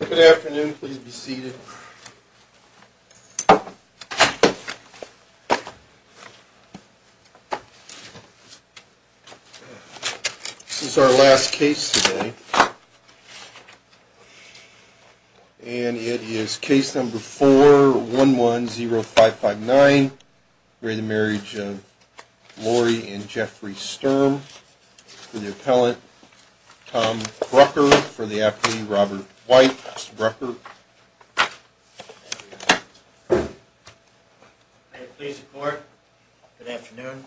Good afternoon, please be seated This is our last case today And it is case number four one one zero five five nine where the marriage of Lori and Jeffrey Sturm for the appellant Tom Brucker for the FD Robert white record Good afternoon,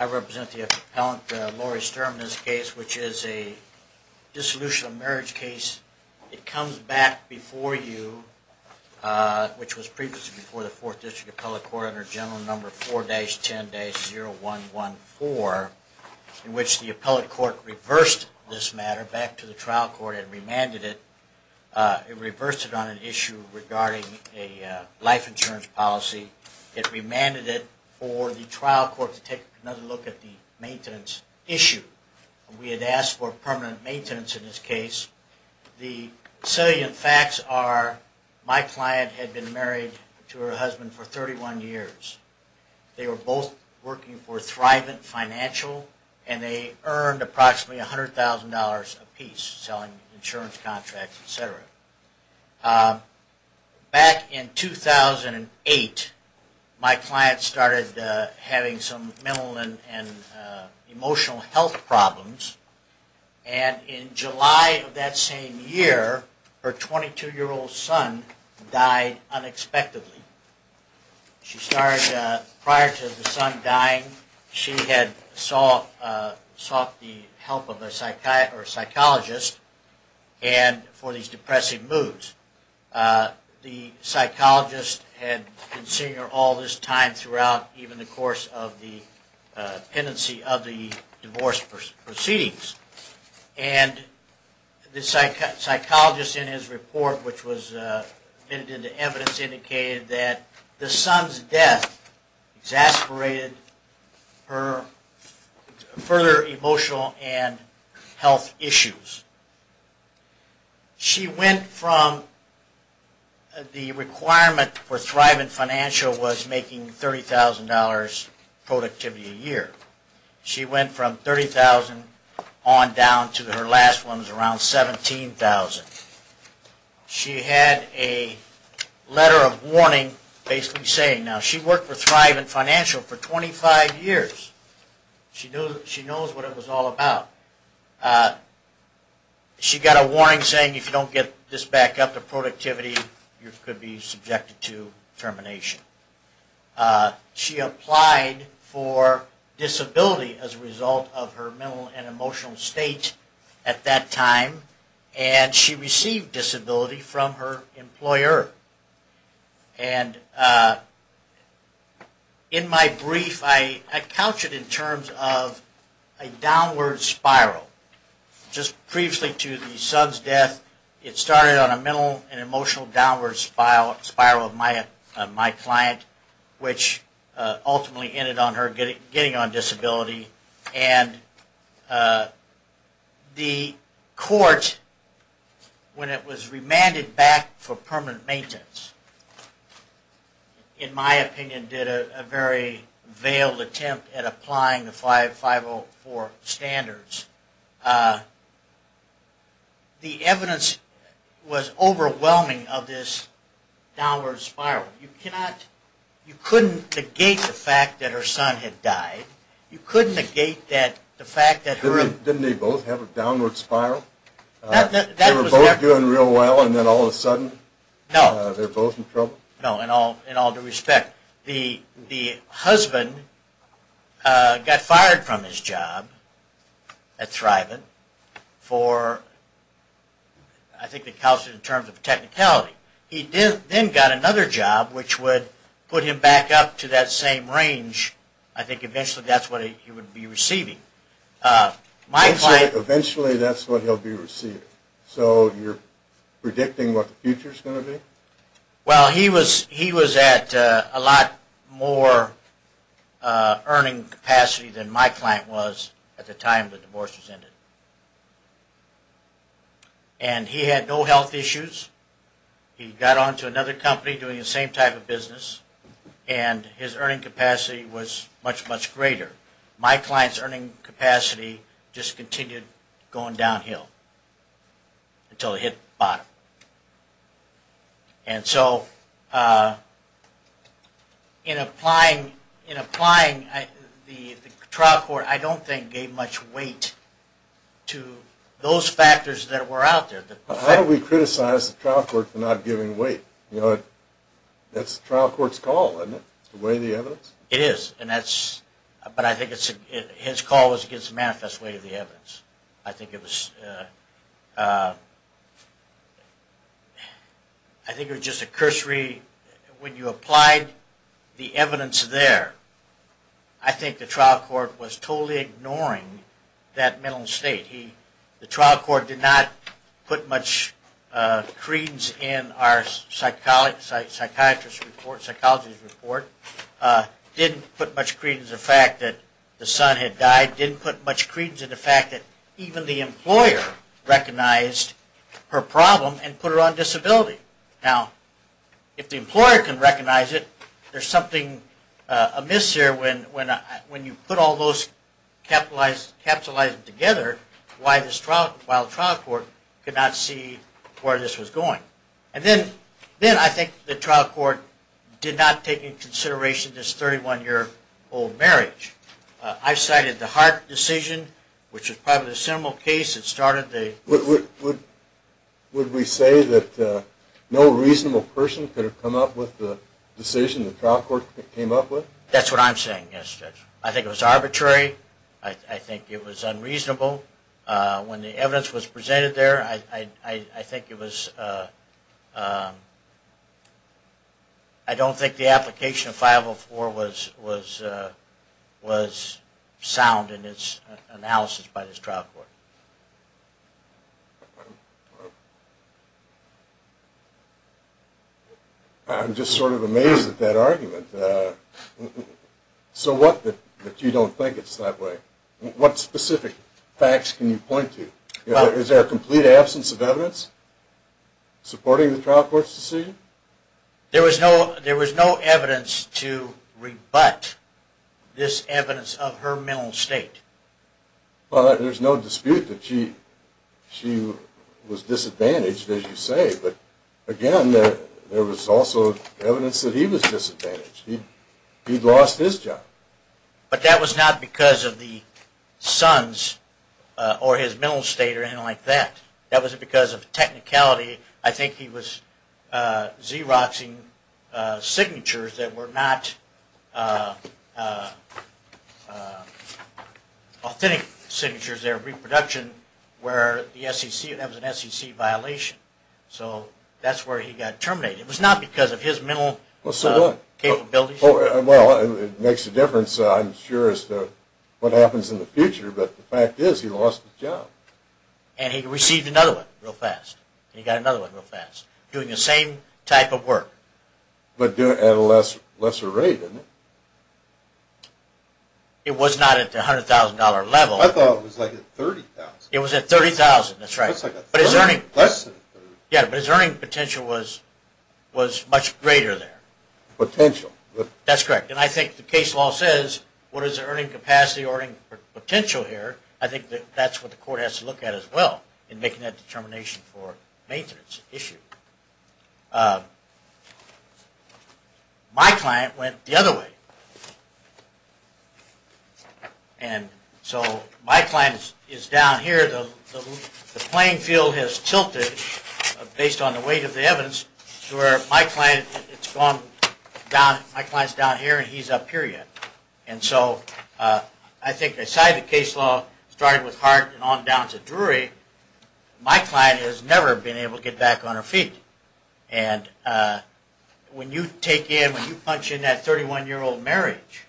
I Represent the appellant Laurie Sturm this case, which is a Dissolution of marriage case it comes back before you Which was previously before the fourth district appellate court under general number four days ten days zero one one four In which the appellate court reversed this matter back to the trial court and remanded it It reversed it on an issue regarding a life insurance policy It remanded it for the trial court to take another look at the maintenance issue We had asked for permanent maintenance in this case The salient facts are my client had been married to her husband for 31 years They were both working for thriving financial and they earned approximately a hundred thousand dollars apiece selling insurance contracts, etc Back in 2008 my client started having some mental and emotional health problems and In July of that same year her 22 year old son died unexpectedly She started prior to the son dying she had sought sought the help of a psychiatrist or a psychologist and for these depressive moods the psychologist had been seeing her all this time throughout even the course of the tendency of the divorce proceedings and The psychic psychologist in his report, which was admitted to evidence indicated that the son's death exasperated her further emotional and health issues She went from The requirement for thriving financial was making thirty thousand dollars Productivity a year she went from 30,000 on down to her last one was around 17,000 she had a Letter of warning basically saying now she worked for thriving financial for 25 years She knows she knows what it was all about She got a warning saying if you don't get this back up to productivity you could be subjected to termination She applied for disability as a result of her mental and emotional state at that time and She received disability from her employer and In my brief I encountered in terms of a downward spiral Just previously to the son's death it started on a mental and emotional Downward spiral spiral of my my client which ultimately ended on her getting on disability and The court when it was remanded back for permanent maintenance In my opinion did a very veiled attempt at applying the five five oh four standards The Evidence was overwhelming of this Downward spiral you cannot you couldn't negate the fact that her son had died You couldn't negate that the fact that her didn't they both have a downward spiral They were both doing real well, and then all of a sudden now they're both in trouble No, and all in all due respect the the husband Got fired from his job thriving for I Think the couch in terms of technicality He did then got another job, which would put him back up to that same range I think eventually that's what he would be receiving My client eventually that's what he'll be receiving so you're predicting what the future's gonna be Well, he was he was at a lot more Earning capacity than my client was at the time the divorce was ended and He had no health issues he got on to another company doing the same type of business and His earning capacity was much much greater my clients earning capacity just continued going downhill until it hit bottom and so In Applying in applying I the trial court. I don't think gave much weight To those factors that were out there. How do we criticize the trial court for not giving weight you know it? That's the trial courts call and it's the way the evidence it is and that's But I think it's his call was against the manifest way of the evidence. I think it was I When you applied the evidence there I Think the trial court was totally ignoring that mental state he the trial court did not put much creedence in our psychologist psychiatrist report psychologist report Didn't put much creedence the fact that the son had died didn't put much creedence in the fact that even the employer recognized her problem and put her on disability now if The employer can recognize it. There's something a miss here when when when you put all those Capitalized capitalized together why this trial trial trial court could not see where this was going and then Then I think the trial court did not take in consideration this 31 year old marriage I cited the heart decision, which is part of the seminal case it started the Would Would we say that? No, reasonable person could have come up with the decision the trial court came up with that's what I'm saying Yes, I think it was arbitrary. I think it was unreasonable when the evidence was presented there, I think it was I Don't think the application of 504 was was was sound in its analysis by this trial court I Am just sort of amazed at that argument So what that you don't think it's that way what specific facts can you point to is there a complete absence of evidence Supporting the trial courts to see There was no there was no evidence to rebut this evidence of her mental state Well, there's no dispute that she She was disadvantaged as you say, but again there there was also evidence that he was disadvantaged He'd lost his job but that was not because of the sons Or his mental state or anything like that. That wasn't because of technicality. I think he was Xeroxing signatures that were not Authentic signatures their reproduction where the SEC that was an SEC violation, so that's where he got terminated It was not because of his mental Capabilities. Oh, well it makes a difference I'm sure as to what happens in the future, but the fact is he lost his job And he received another one real fast. He got another one real fast doing the same type of work But doing at a less lesser rate in it It was not at the hundred thousand dollar level I thought it was like it was at thirty thousand That's right, but it's earning less. Yeah, but his earning potential was Was much greater there Potential that's correct, and I think the case law says what is the earning capacity or potential here? I think that that's what the court has to look at as well in making that determination for maintenance issue My client went the other way And So my client is down here the playing field has tilted Based on the weight of the evidence to where my client. It's gone down my clients down here And he's up here yet, and so I think aside the case law started with heart and on down to Drury my client has never been able to get back on her feet and When you take in when you punch in that 31 year old marriage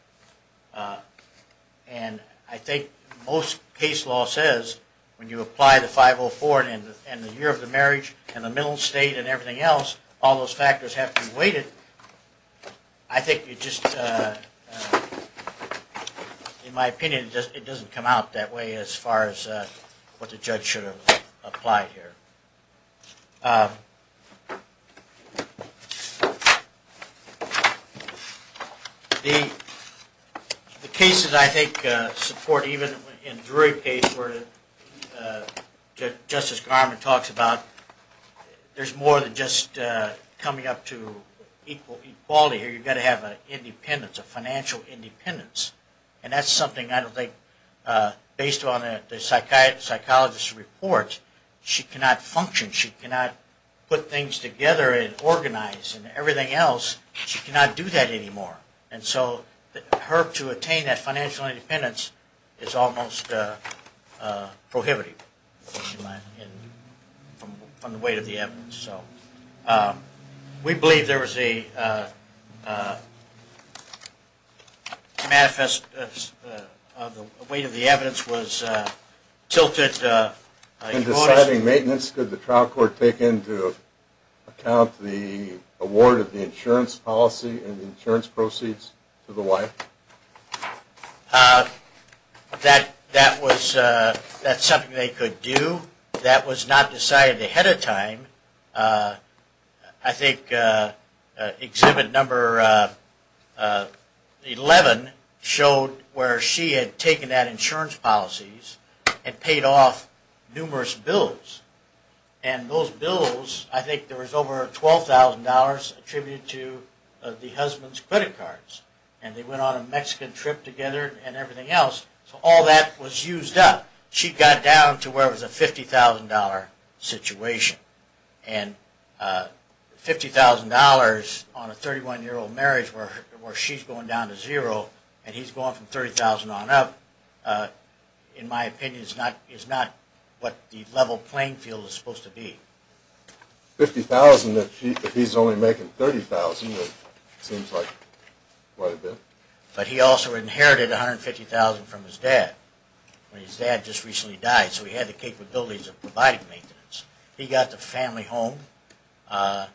and I think most case law says when you apply the 504 and the year of the marriage and the middle state and everything else all those factors have to be weighted I think you just In my opinion just it doesn't come out that way as far as what the judge should have applied here The Cases I think support even in Drury case where Justice Garment talks about There's more than just Coming up to equal equality here. You've got to have an independence of financial independence, and that's something I don't think Based on a psychiatrist psychologist report she cannot function she cannot put things together and organize And everything else she cannot do that anymore and so her to attain that financial independence is almost Prohibited From the weight of the evidence so we believe there was a Manifest Weight of the evidence was tilted Deciding maintenance could the trial court take into Account the award of the insurance policy and insurance proceeds to the wife That that was that's something they could do that was not decided ahead of time I Think Exhibit number 11 showed where she had taken that insurance policies and paid off numerous bills and Those bills I think there was over $12,000 attributed to The husband's credit cards, and they went on a Mexican trip together and everything else so all that was used up she got down to where it was a $50,000 situation and Fifty thousand dollars on a 31 year old marriage where where she's going down to zero and he's gone from 30,000 on up In my opinion is not is not what the level playing field is supposed to be 50,000 that he's only making 30,000 But he also inherited 150,000 from his dad His dad just recently died so he had the capabilities of providing maintenance. He got the family home That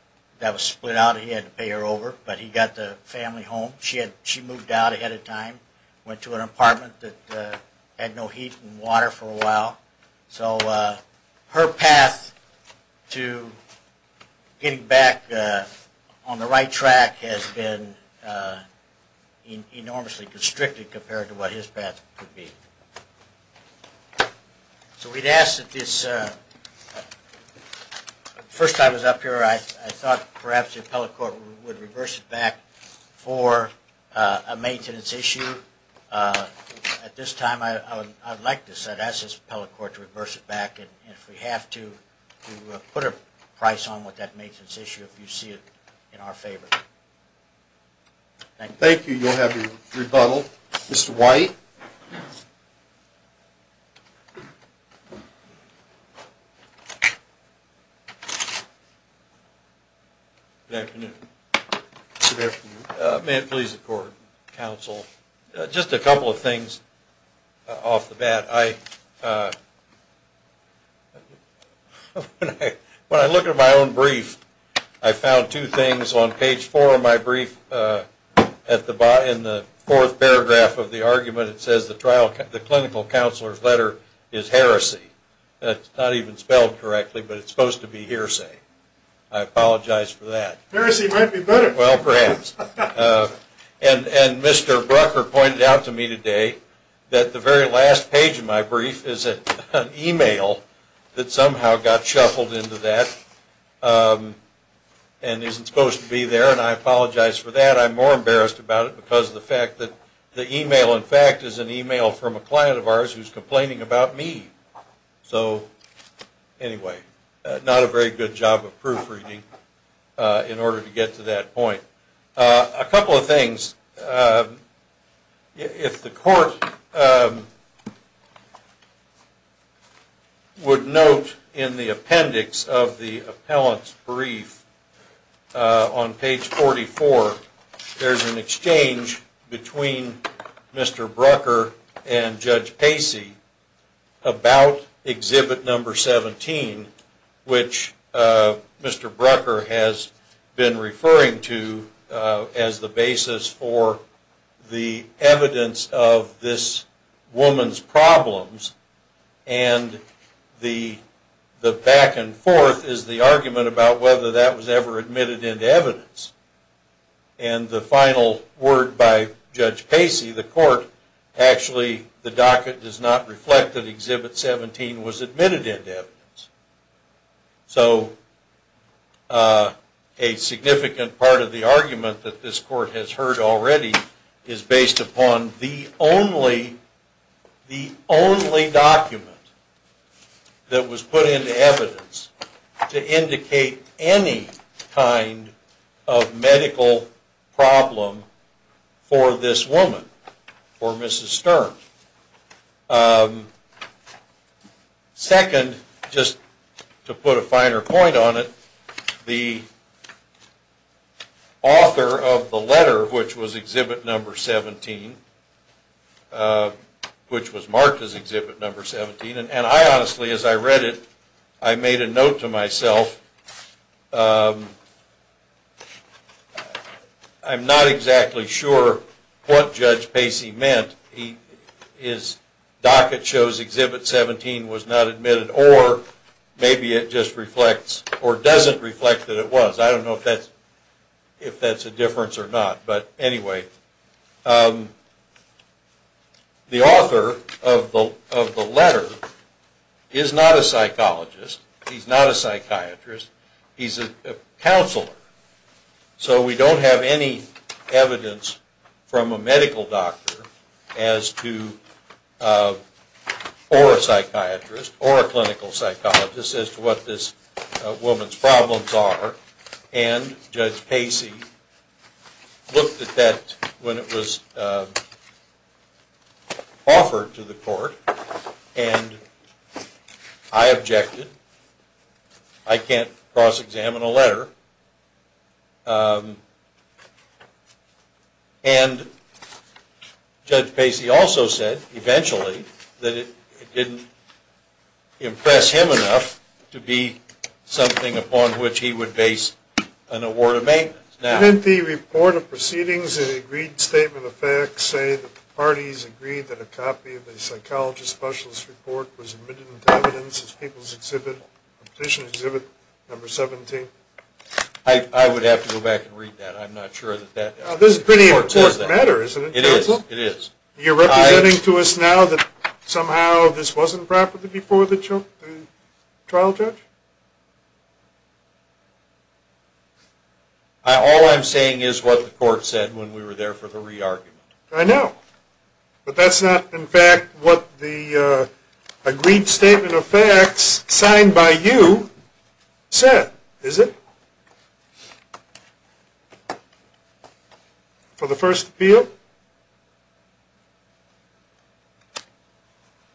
was split out. He had to pay her over, but he got the family home She had she moved out ahead of time went to an apartment that had no heat and water for a while so her path to Getting back on the right track has been Enormously constricted compared to what his path could be So we'd ask that this First I was up here. I thought perhaps the appellate court would reverse it back for a maintenance issue At this time I would like to set as his appellate court to reverse it back And if we have to to put a price on what that makes its issue if you see it in our favor Thank you, you'll have your rebuttal mr.. White You May it please the court counsel just a couple of things off the bat I When I look at my own brief I found two things on page four of my brief At the bar in the fourth paragraph of the argument it says the trial cut the clinical counselors letter is heresy That's not even spelled correctly, but it's supposed to be hearsay. I Apologize for that And and mr. Brucker pointed out to me today that the very last page of my brief is it an email that somehow got shuffled into that and Isn't supposed to be there, and I apologize for that I'm more embarrassed about it because the fact that the email in fact is an email from a client of ours Who's complaining about me? so Anyway, not a very good job of proofreading In order to get to that point a couple of things If the court Would note in the appendix of the appellant's brief on page 44 There's an exchange between Mr.. Brucker and Judge Pacey about exhibit number 17 which Mr.. Brucker has been referring to as the basis for the evidence of this woman's problems and The the back-and-forth is the argument about whether that was ever admitted into evidence and the final word by Judge Pacey the court Actually the docket does not reflect that exhibit 17 was admitted into evidence so a Significant part of the argument that this court has heard already is based upon the only the only document That was put into evidence to indicate any kind of medical problem for this woman or mrs. Stern Second just to put a finer point on it the Author of the letter which was exhibit number 17 Which was marked as exhibit number 17, and I honestly as I read it. I made a note to myself I'm not exactly sure what judge Pacey meant he is Docket shows exhibit 17 was not admitted or Maybe it just reflects or doesn't reflect that it was I don't know if that's if that's a difference or not, but anyway The author of the of the letter is not a psychologist. He's not a psychiatrist He's a counselor so we don't have any evidence from a medical doctor as to Or a psychiatrist or a clinical psychologist as to what this woman's problems are and Judge Pacey Looked at that when it was Offered To the court and I Objected I can't cross-examine a letter And Judge Pacey also said eventually that it didn't impress him enough to be Something upon which he would base an award of maintenance now Didn't the report of proceedings and agreed statement of facts say that the parties agreed that a copy of a psychologist specialist report was as people's exhibit petition exhibit number 17 I Would have to go back and read that I'm not sure that that this is pretty important matter isn't it is it is you're Running to us now that somehow this wasn't property before the choke Trial judge All I'm saying is what the court said when we were there for the re-argument I know but that's not in fact what the agreed statement of facts signed by you Said is it? For the first field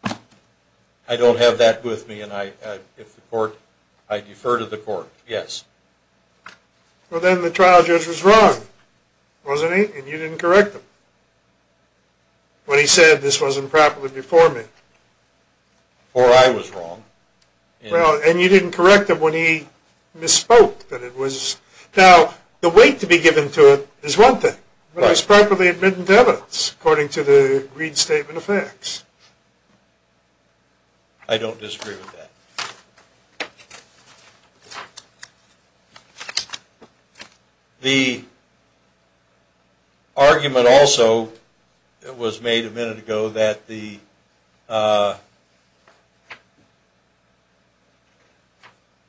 I Have that with me, and I if the court I defer to the court yes Well, then the trial judge was wrong wasn't he and you didn't correct him When he said this wasn't properly before me Or I was wrong Well, and you didn't correct him when he Misspoke that it was now the weight to be given to it is one thing But I was properly admitted to evidence according to the agreed statement of facts I don't disagree with that The argument also it was made a minute ago that the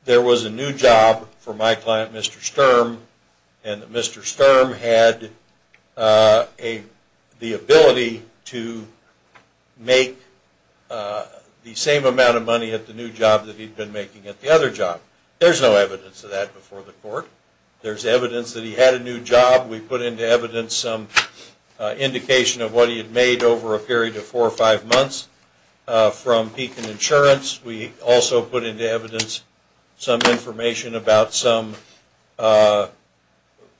There was a new job for my client mr. Sturm and mr. Sturm had a the ability to make The same amount of money at the new job that he'd been making at the other job There's no evidence of that before the court. There's evidence that he had a new job. We put into evidence some Indication of what he had made over a period of four or five months From beacon insurance we also put into evidence some information about some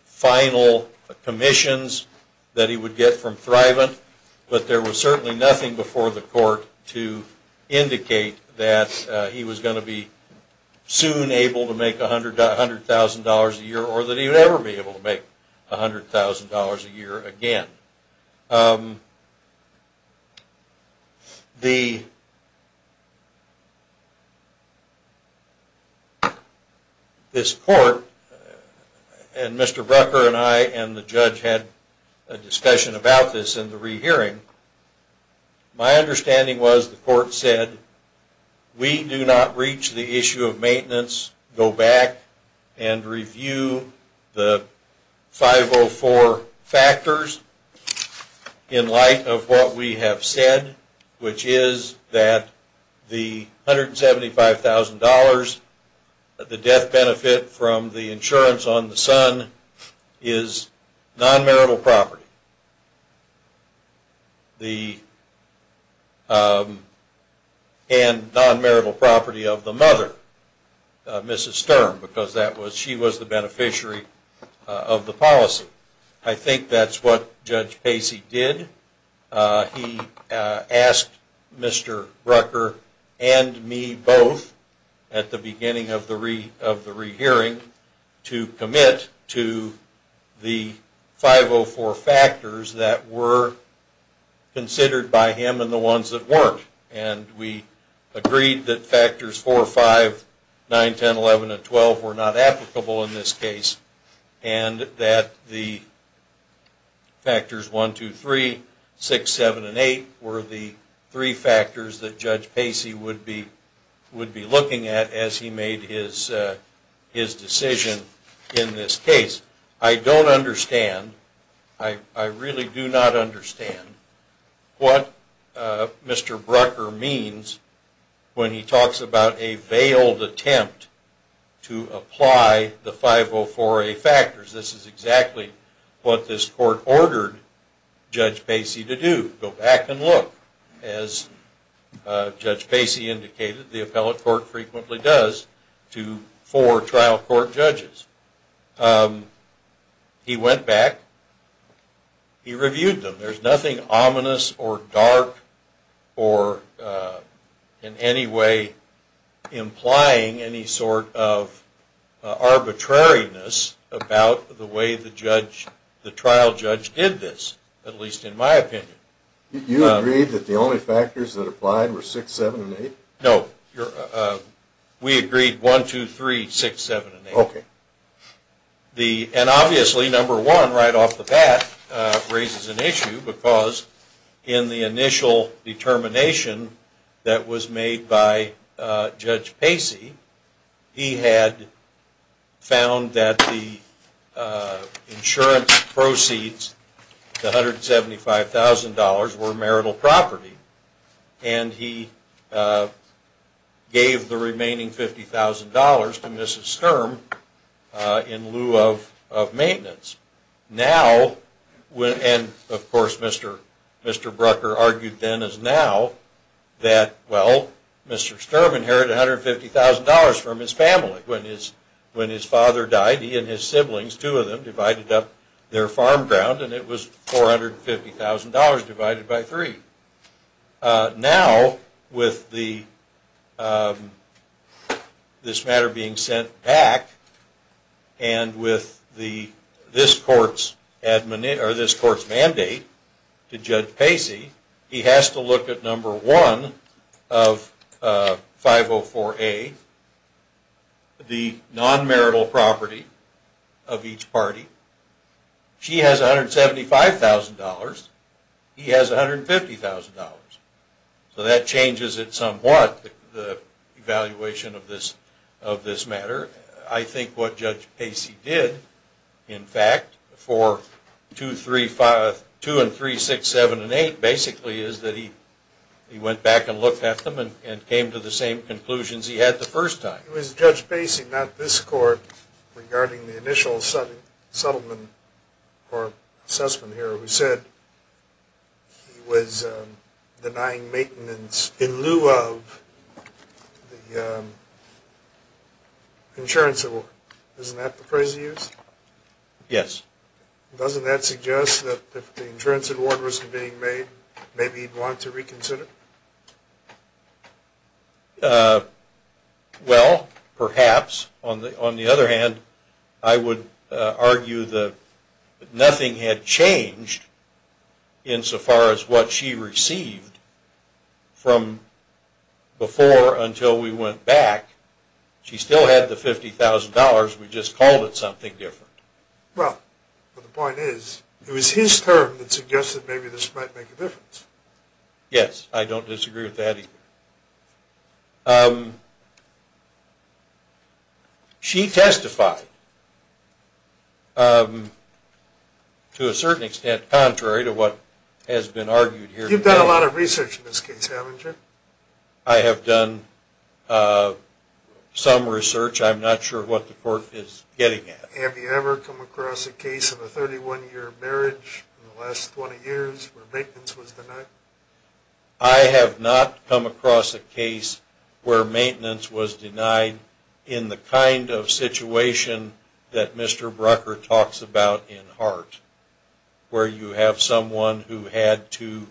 Final Commissions that he would get from thriving, but there was certainly nothing before the court to Indicate that he was going to be Soon able to make a hundred hundred thousand dollars a year or that he would ever be able to make a hundred thousand dollars a year again The This Court And mr. Brucker and I and the judge had a discussion about this in the rehearing my understanding was the court said we do not reach the issue of maintenance go back and review the 504 factors In light of what we have said which is that the $175,000 the death benefit from the insurance on the son is non-marital property The And non-marital property of the mother Mrs. Sturm because that was she was the beneficiary of the policy. I think that's what judge Pacey did He asked mr. Brucker and me both at the beginning of the re of the rehearing to commit to the 504 factors that were Considered by him and the ones that weren't and we agreed that factors four or five nine ten eleven and twelve were not applicable in this case and that the Factors one two three six seven and eight were the three factors that judge Pacey would be Would be looking at as he made his His decision in this case. I don't understand. I Really do not understand what Mr. Brucker means When he talks about a veiled attempt to apply the 504 a factors this is exactly what this court ordered judge Pacey to do go back and look as Judge Pacey indicated the appellate court frequently does to for trial court judges He went back He reviewed them there's nothing ominous or dark or in any way implying any sort of Arbitrariness about the way the judge the trial judge did this at least in my opinion You agreed that the only factors that applied were six seven eight. No We agreed one two three six seven. Okay The and obviously number one right off the bat Raises an issue because in the initial determination that was made by judge Pacey he had found that the Insurance proceeds the hundred seventy five thousand dollars were marital property and he Gave the remaining fifty thousand dollars to mrs. Sturm in lieu of maintenance now When and of course, mr. Mr. Brucker argued then is now That well, mr Sturm inherited hundred fifty thousand dollars from his family when his when his father died he and his siblings two of them divided up Their farm ground and it was four hundred fifty thousand dollars divided by three now with the This matter being sent back and with the this courts admin or this court's mandate to judge Pacey he has to look at number one of 504 a The non marital property of each party She has a hundred seventy five thousand dollars. He has a hundred fifty thousand dollars So that changes it somewhat the evaluation of this of this matter I think what judge Pacey did in fact for two three five two and three six seven and eight Basically is that he he went back and looked at them and came to the same conclusions He had the first time it was judge Pacey not this court regarding the initial sudden settlement or assessment here who said he was denying maintenance in lieu of the Insurance Yes, doesn't that suggest that the insurance award was being made maybe he'd want to reconsider Well, perhaps on the on the other hand I would argue that Nothing had changed in so far as what she received from Before until we went back She still had the $50,000. We just called it something different Well, the point is it was his term that suggested. Maybe this might make a difference Yes, I don't disagree with that She testified To a certain extent contrary to what has been argued here you've done a lot of research in this case I have done Some research, I'm not sure what the court is getting at Have you ever come across a case of a 31 year marriage in the last 20 years where maintenance was denied? I have not come across a case where maintenance was denied in the kind of situation That mr. Brucker talks about in art Where you have someone who had to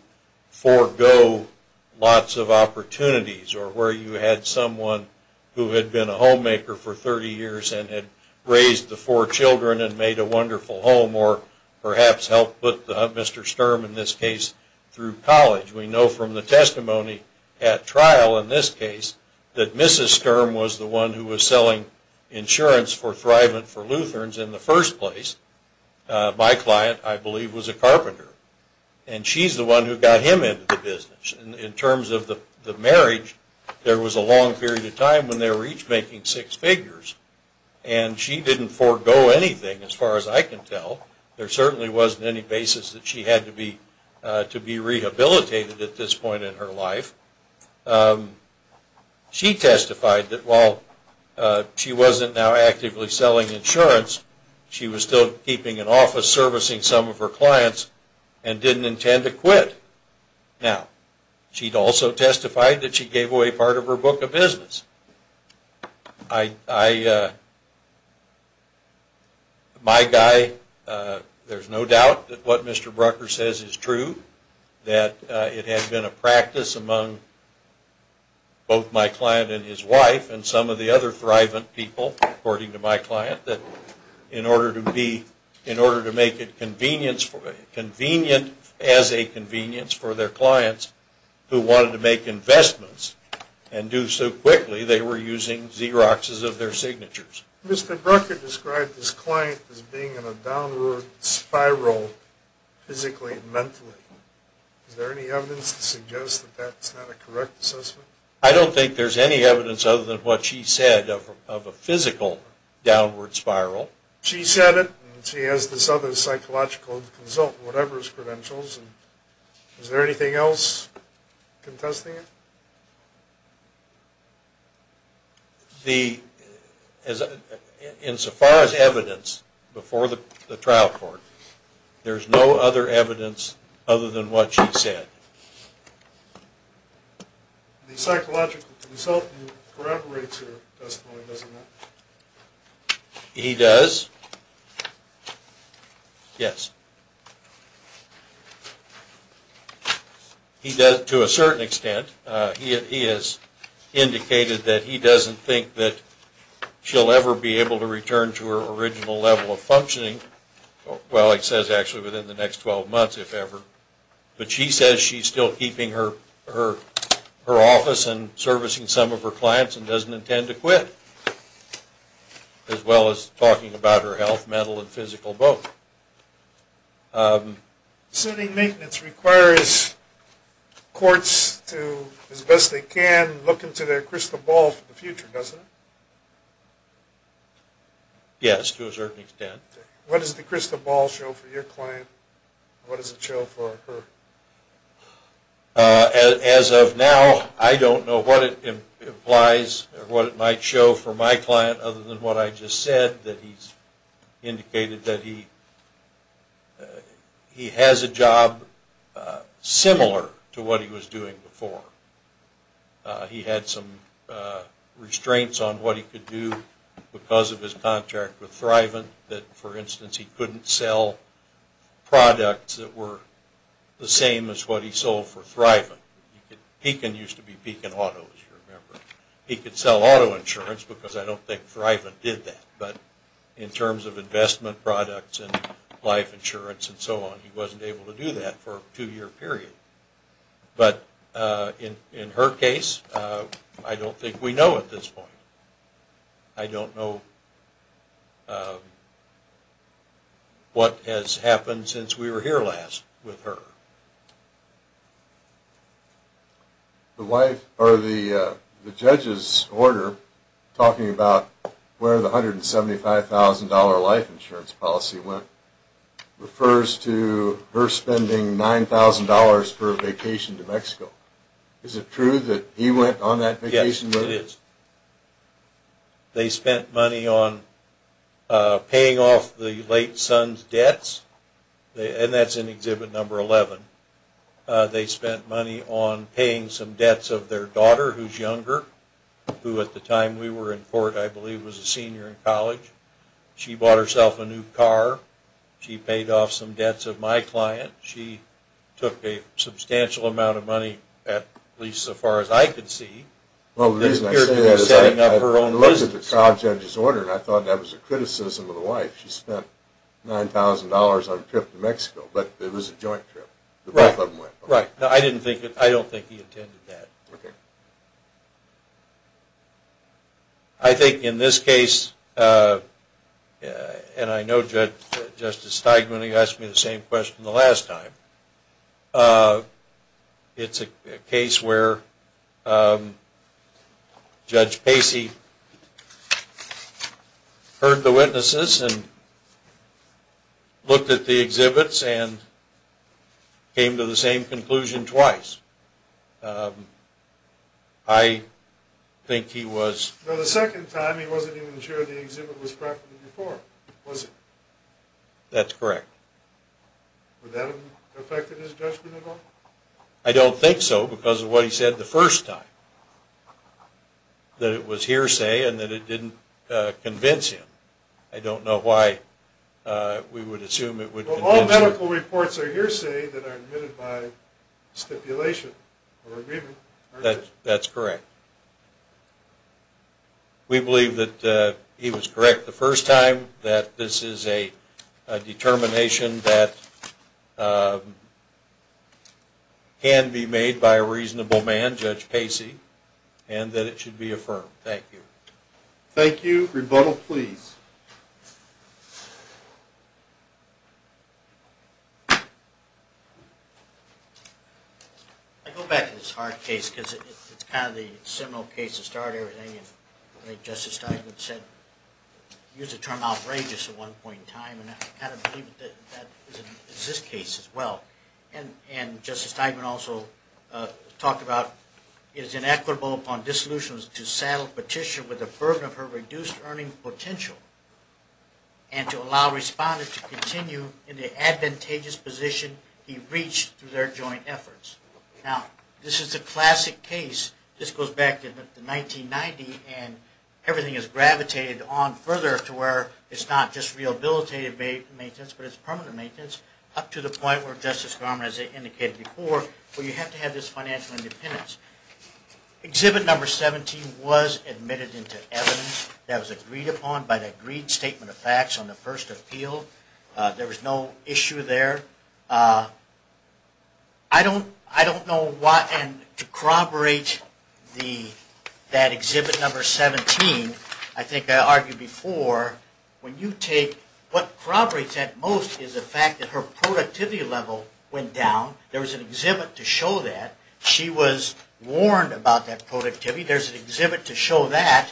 Lots of opportunities or where you had someone who had been a homemaker for 30 years and had raised the four children And made a wonderful home or perhaps helped with mr. Sturm in this case through college We know from the testimony at trial in this case that mrs. Sturm was the one who was selling insurance for thriving for Lutherans in the first place My client I believe was a carpenter And she's the one who got him into the business in terms of the marriage There was a long period of time when they were each making six figures And she didn't forego anything as far as I can tell there certainly wasn't any basis that she had to be To be rehabilitated at this point in her life She testified that while She wasn't now actively selling insurance She was still keeping an office servicing some of her clients and didn't intend to quit Now she'd also testified that she gave away part of her book of business. I My guy There's no doubt that what mr. Brucker says is true that it had been a practice among Both my client and his wife and some of the other thriving people according to my client that In order to be in order to make it convenience for a convenient as a convenience for their clients Who wanted to make investments and do so quickly they were using Xerox's of their signatures mr. Brucker described this client as being in a downward spiral Physically I don't think there's any evidence other than what she said of a physical Downward spiral she said it she has this other psychological consult whatever his credentials Is there anything else? contesting it The As In so far as evidence before the trial court. There's no other evidence other than what she said He does Yes He does to a certain extent he is Indicated that he doesn't think that She'll ever be able to return to her original level of functioning Well, it says actually within the next 12 months if ever But she says she's still keeping her her her office and servicing some of her clients and doesn't intend to quit As well as talking about her health mental and physical both Setting maintenance requires Courts to as best they can look into their crystal ball for the future doesn't Yes to a certain extent what is the crystal ball show for your client, what does it show for her? As of now I don't know what it implies what it might show for my client other than what I just said that he's indicated that he Has a job Similar to what he was doing before He had some Restraints on what he could do because of his contract with Thriven that for instance he couldn't sell Products that were the same as what he sold for Thriven Pekin used to be Pekin Auto He could sell auto insurance because I don't think Thriven did that but in terms of investment products and life insurance And so on he wasn't able to do that for a two-year period But in in her case. I don't think we know at this point. I don't know What has happened since we were here last with her The wife or the judges order Talking about where the hundred and seventy five thousand dollar life insurance policy went Refers to her spending nine thousand dollars for a vacation to Mexico is it true that he went on that vacation? They spent money on Paying off the late son's debts They and that's an exhibit number 11 They spent money on paying some debts of their daughter who's younger Who at the time we were in court I believe was a senior in college She bought herself a new car. She paid off some debts of my client She took a substantial amount of money at least so far as I could see Well, there's no setting up her own was it the trial judge's order, and I thought that was a criticism of the wife She spent nine thousand dollars on trip to Mexico, but it was a joint trip Right now. I didn't think it. I don't think he attended that okay, I Think in this case And I know judge justice Steigman he asked me the same question the last time It's a case where Judge Pacey Heard the witnesses and Looked at the exhibits and came to the same conclusion twice I Think he was That's correct I Don't think so because of what he said the first time That it was hearsay and that it didn't convince him I don't know why We would assume it would all medical reports are hearsay that are admitted by Stipulation That's correct We believe that he was correct the first time that this is a determination that Can be made by a reasonable man judge Pacey and that it should be affirmed. Thank you. Thank you rebuttal, please I go back to this hard case because it's kind of the similar case to start everything and make justice time it said Use the term outrageous at one point in time and I kind of believe that This case as well and and justice time and also Talked about it is inequitable upon dissolutions to saddle petition with a burden of her reduced earning potential And to allow respondents to continue in the advantageous position he reached through their joint efforts Now this is a classic case this goes back to the 1990 and everything is gravitated on further to where? It's not just rehabilitative a maintenance But it's permanent maintenance up to the point where justice garment as they indicated before where you have to have this financial independence Exhibit number 17 was admitted into evidence that was agreed upon by the agreed statement of facts on the first appeal There was no issue there I Don't I don't know why and to corroborate the That exhibit number 17 I think I argued before When you take what corroborates at most is the fact that her productivity level went down There was an exhibit to show that she was warned about that productivity There's an exhibit to show that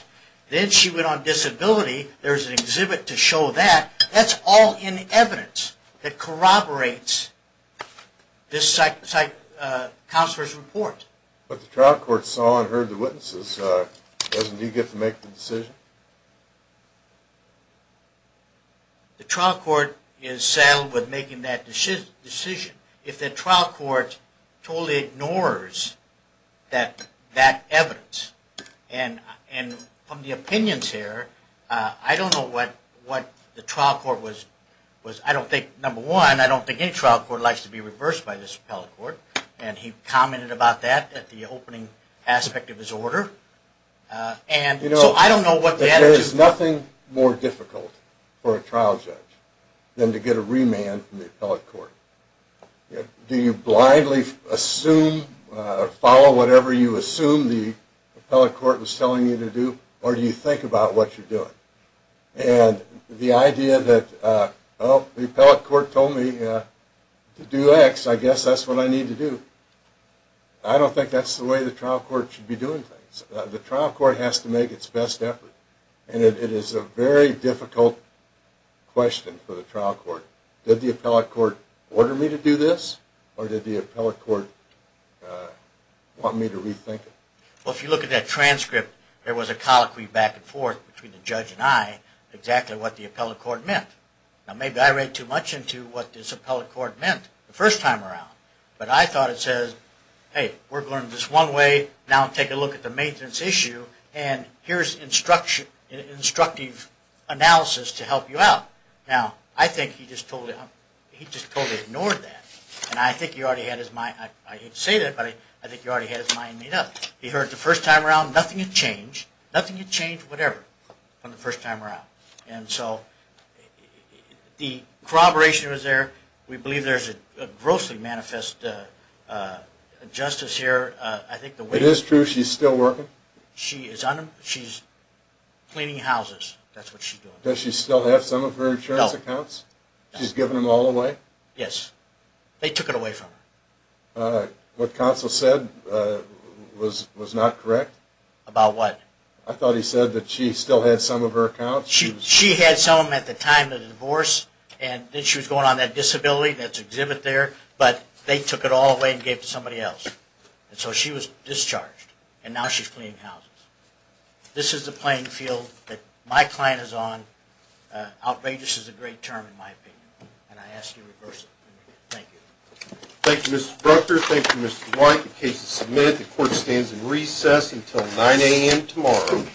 then she went on disability. There's an exhibit to show that that's all in evidence that corroborates This site site counselors report, but the trial court saw and heard the witnesses doesn't you get to make the decision? The trial court is saddled with making that decision if the trial court totally ignores that that evidence and And from the opinions here. I don't know what what the trial court was was. I don't think number one I don't think any trial court likes to be reversed by this appellate court, and he commented about that at the opening aspect of his order And you know I don't know what there is nothing more difficult for a trial judge Than to get a remand from the appellate court Do you blindly assume? Follow whatever you assume the appellate court was telling you to do, or do you think about what you're doing and? The idea that oh the appellate court told me to do X. I guess that's what I need to do I Don't think that's the way the trial court should be doing things the trial court has to make its best effort And it is a very difficult Question for the trial court did the appellate court order me to do this or did the appellate court? Want me to rethink it well if you look at that transcript There was a colloquy back and forth between the judge and I exactly what the appellate court meant now Maybe I read too much into what this appellate court meant the first time around, but I thought it says hey We're going this one way now take a look at the maintenance issue and here's instruction instructive Analysis to help you out now. I think he just told him he just totally ignored that and I think he already had his mind Say that buddy. I think you already had his mind made up. He heard the first time around nothing you change nothing You change whatever from the first time around and so The corroboration was there we believe there's a grossly manifest Justice here, I think the way this true. She's still working. She is on him. She's Cleaning houses, that's what she does she still have some of her insurance accounts. She's given them all away. Yes. They took it away from What council said? Was was not correct about what I thought he said that she still had some of her account She she had some at the time of the divorce, and then she was going on that disability That's exhibit there, but they took it all away and gave to somebody else and so she was discharged and now she's clean house This is the playing field that my client is on Outrageous is a great term in my opinion And I ask you to reverse it. Thank you. Thank you, Mr. Brucker. Thank you, Mr. White. The case is submitted. The court stands in recess until 9 a.m. tomorrow.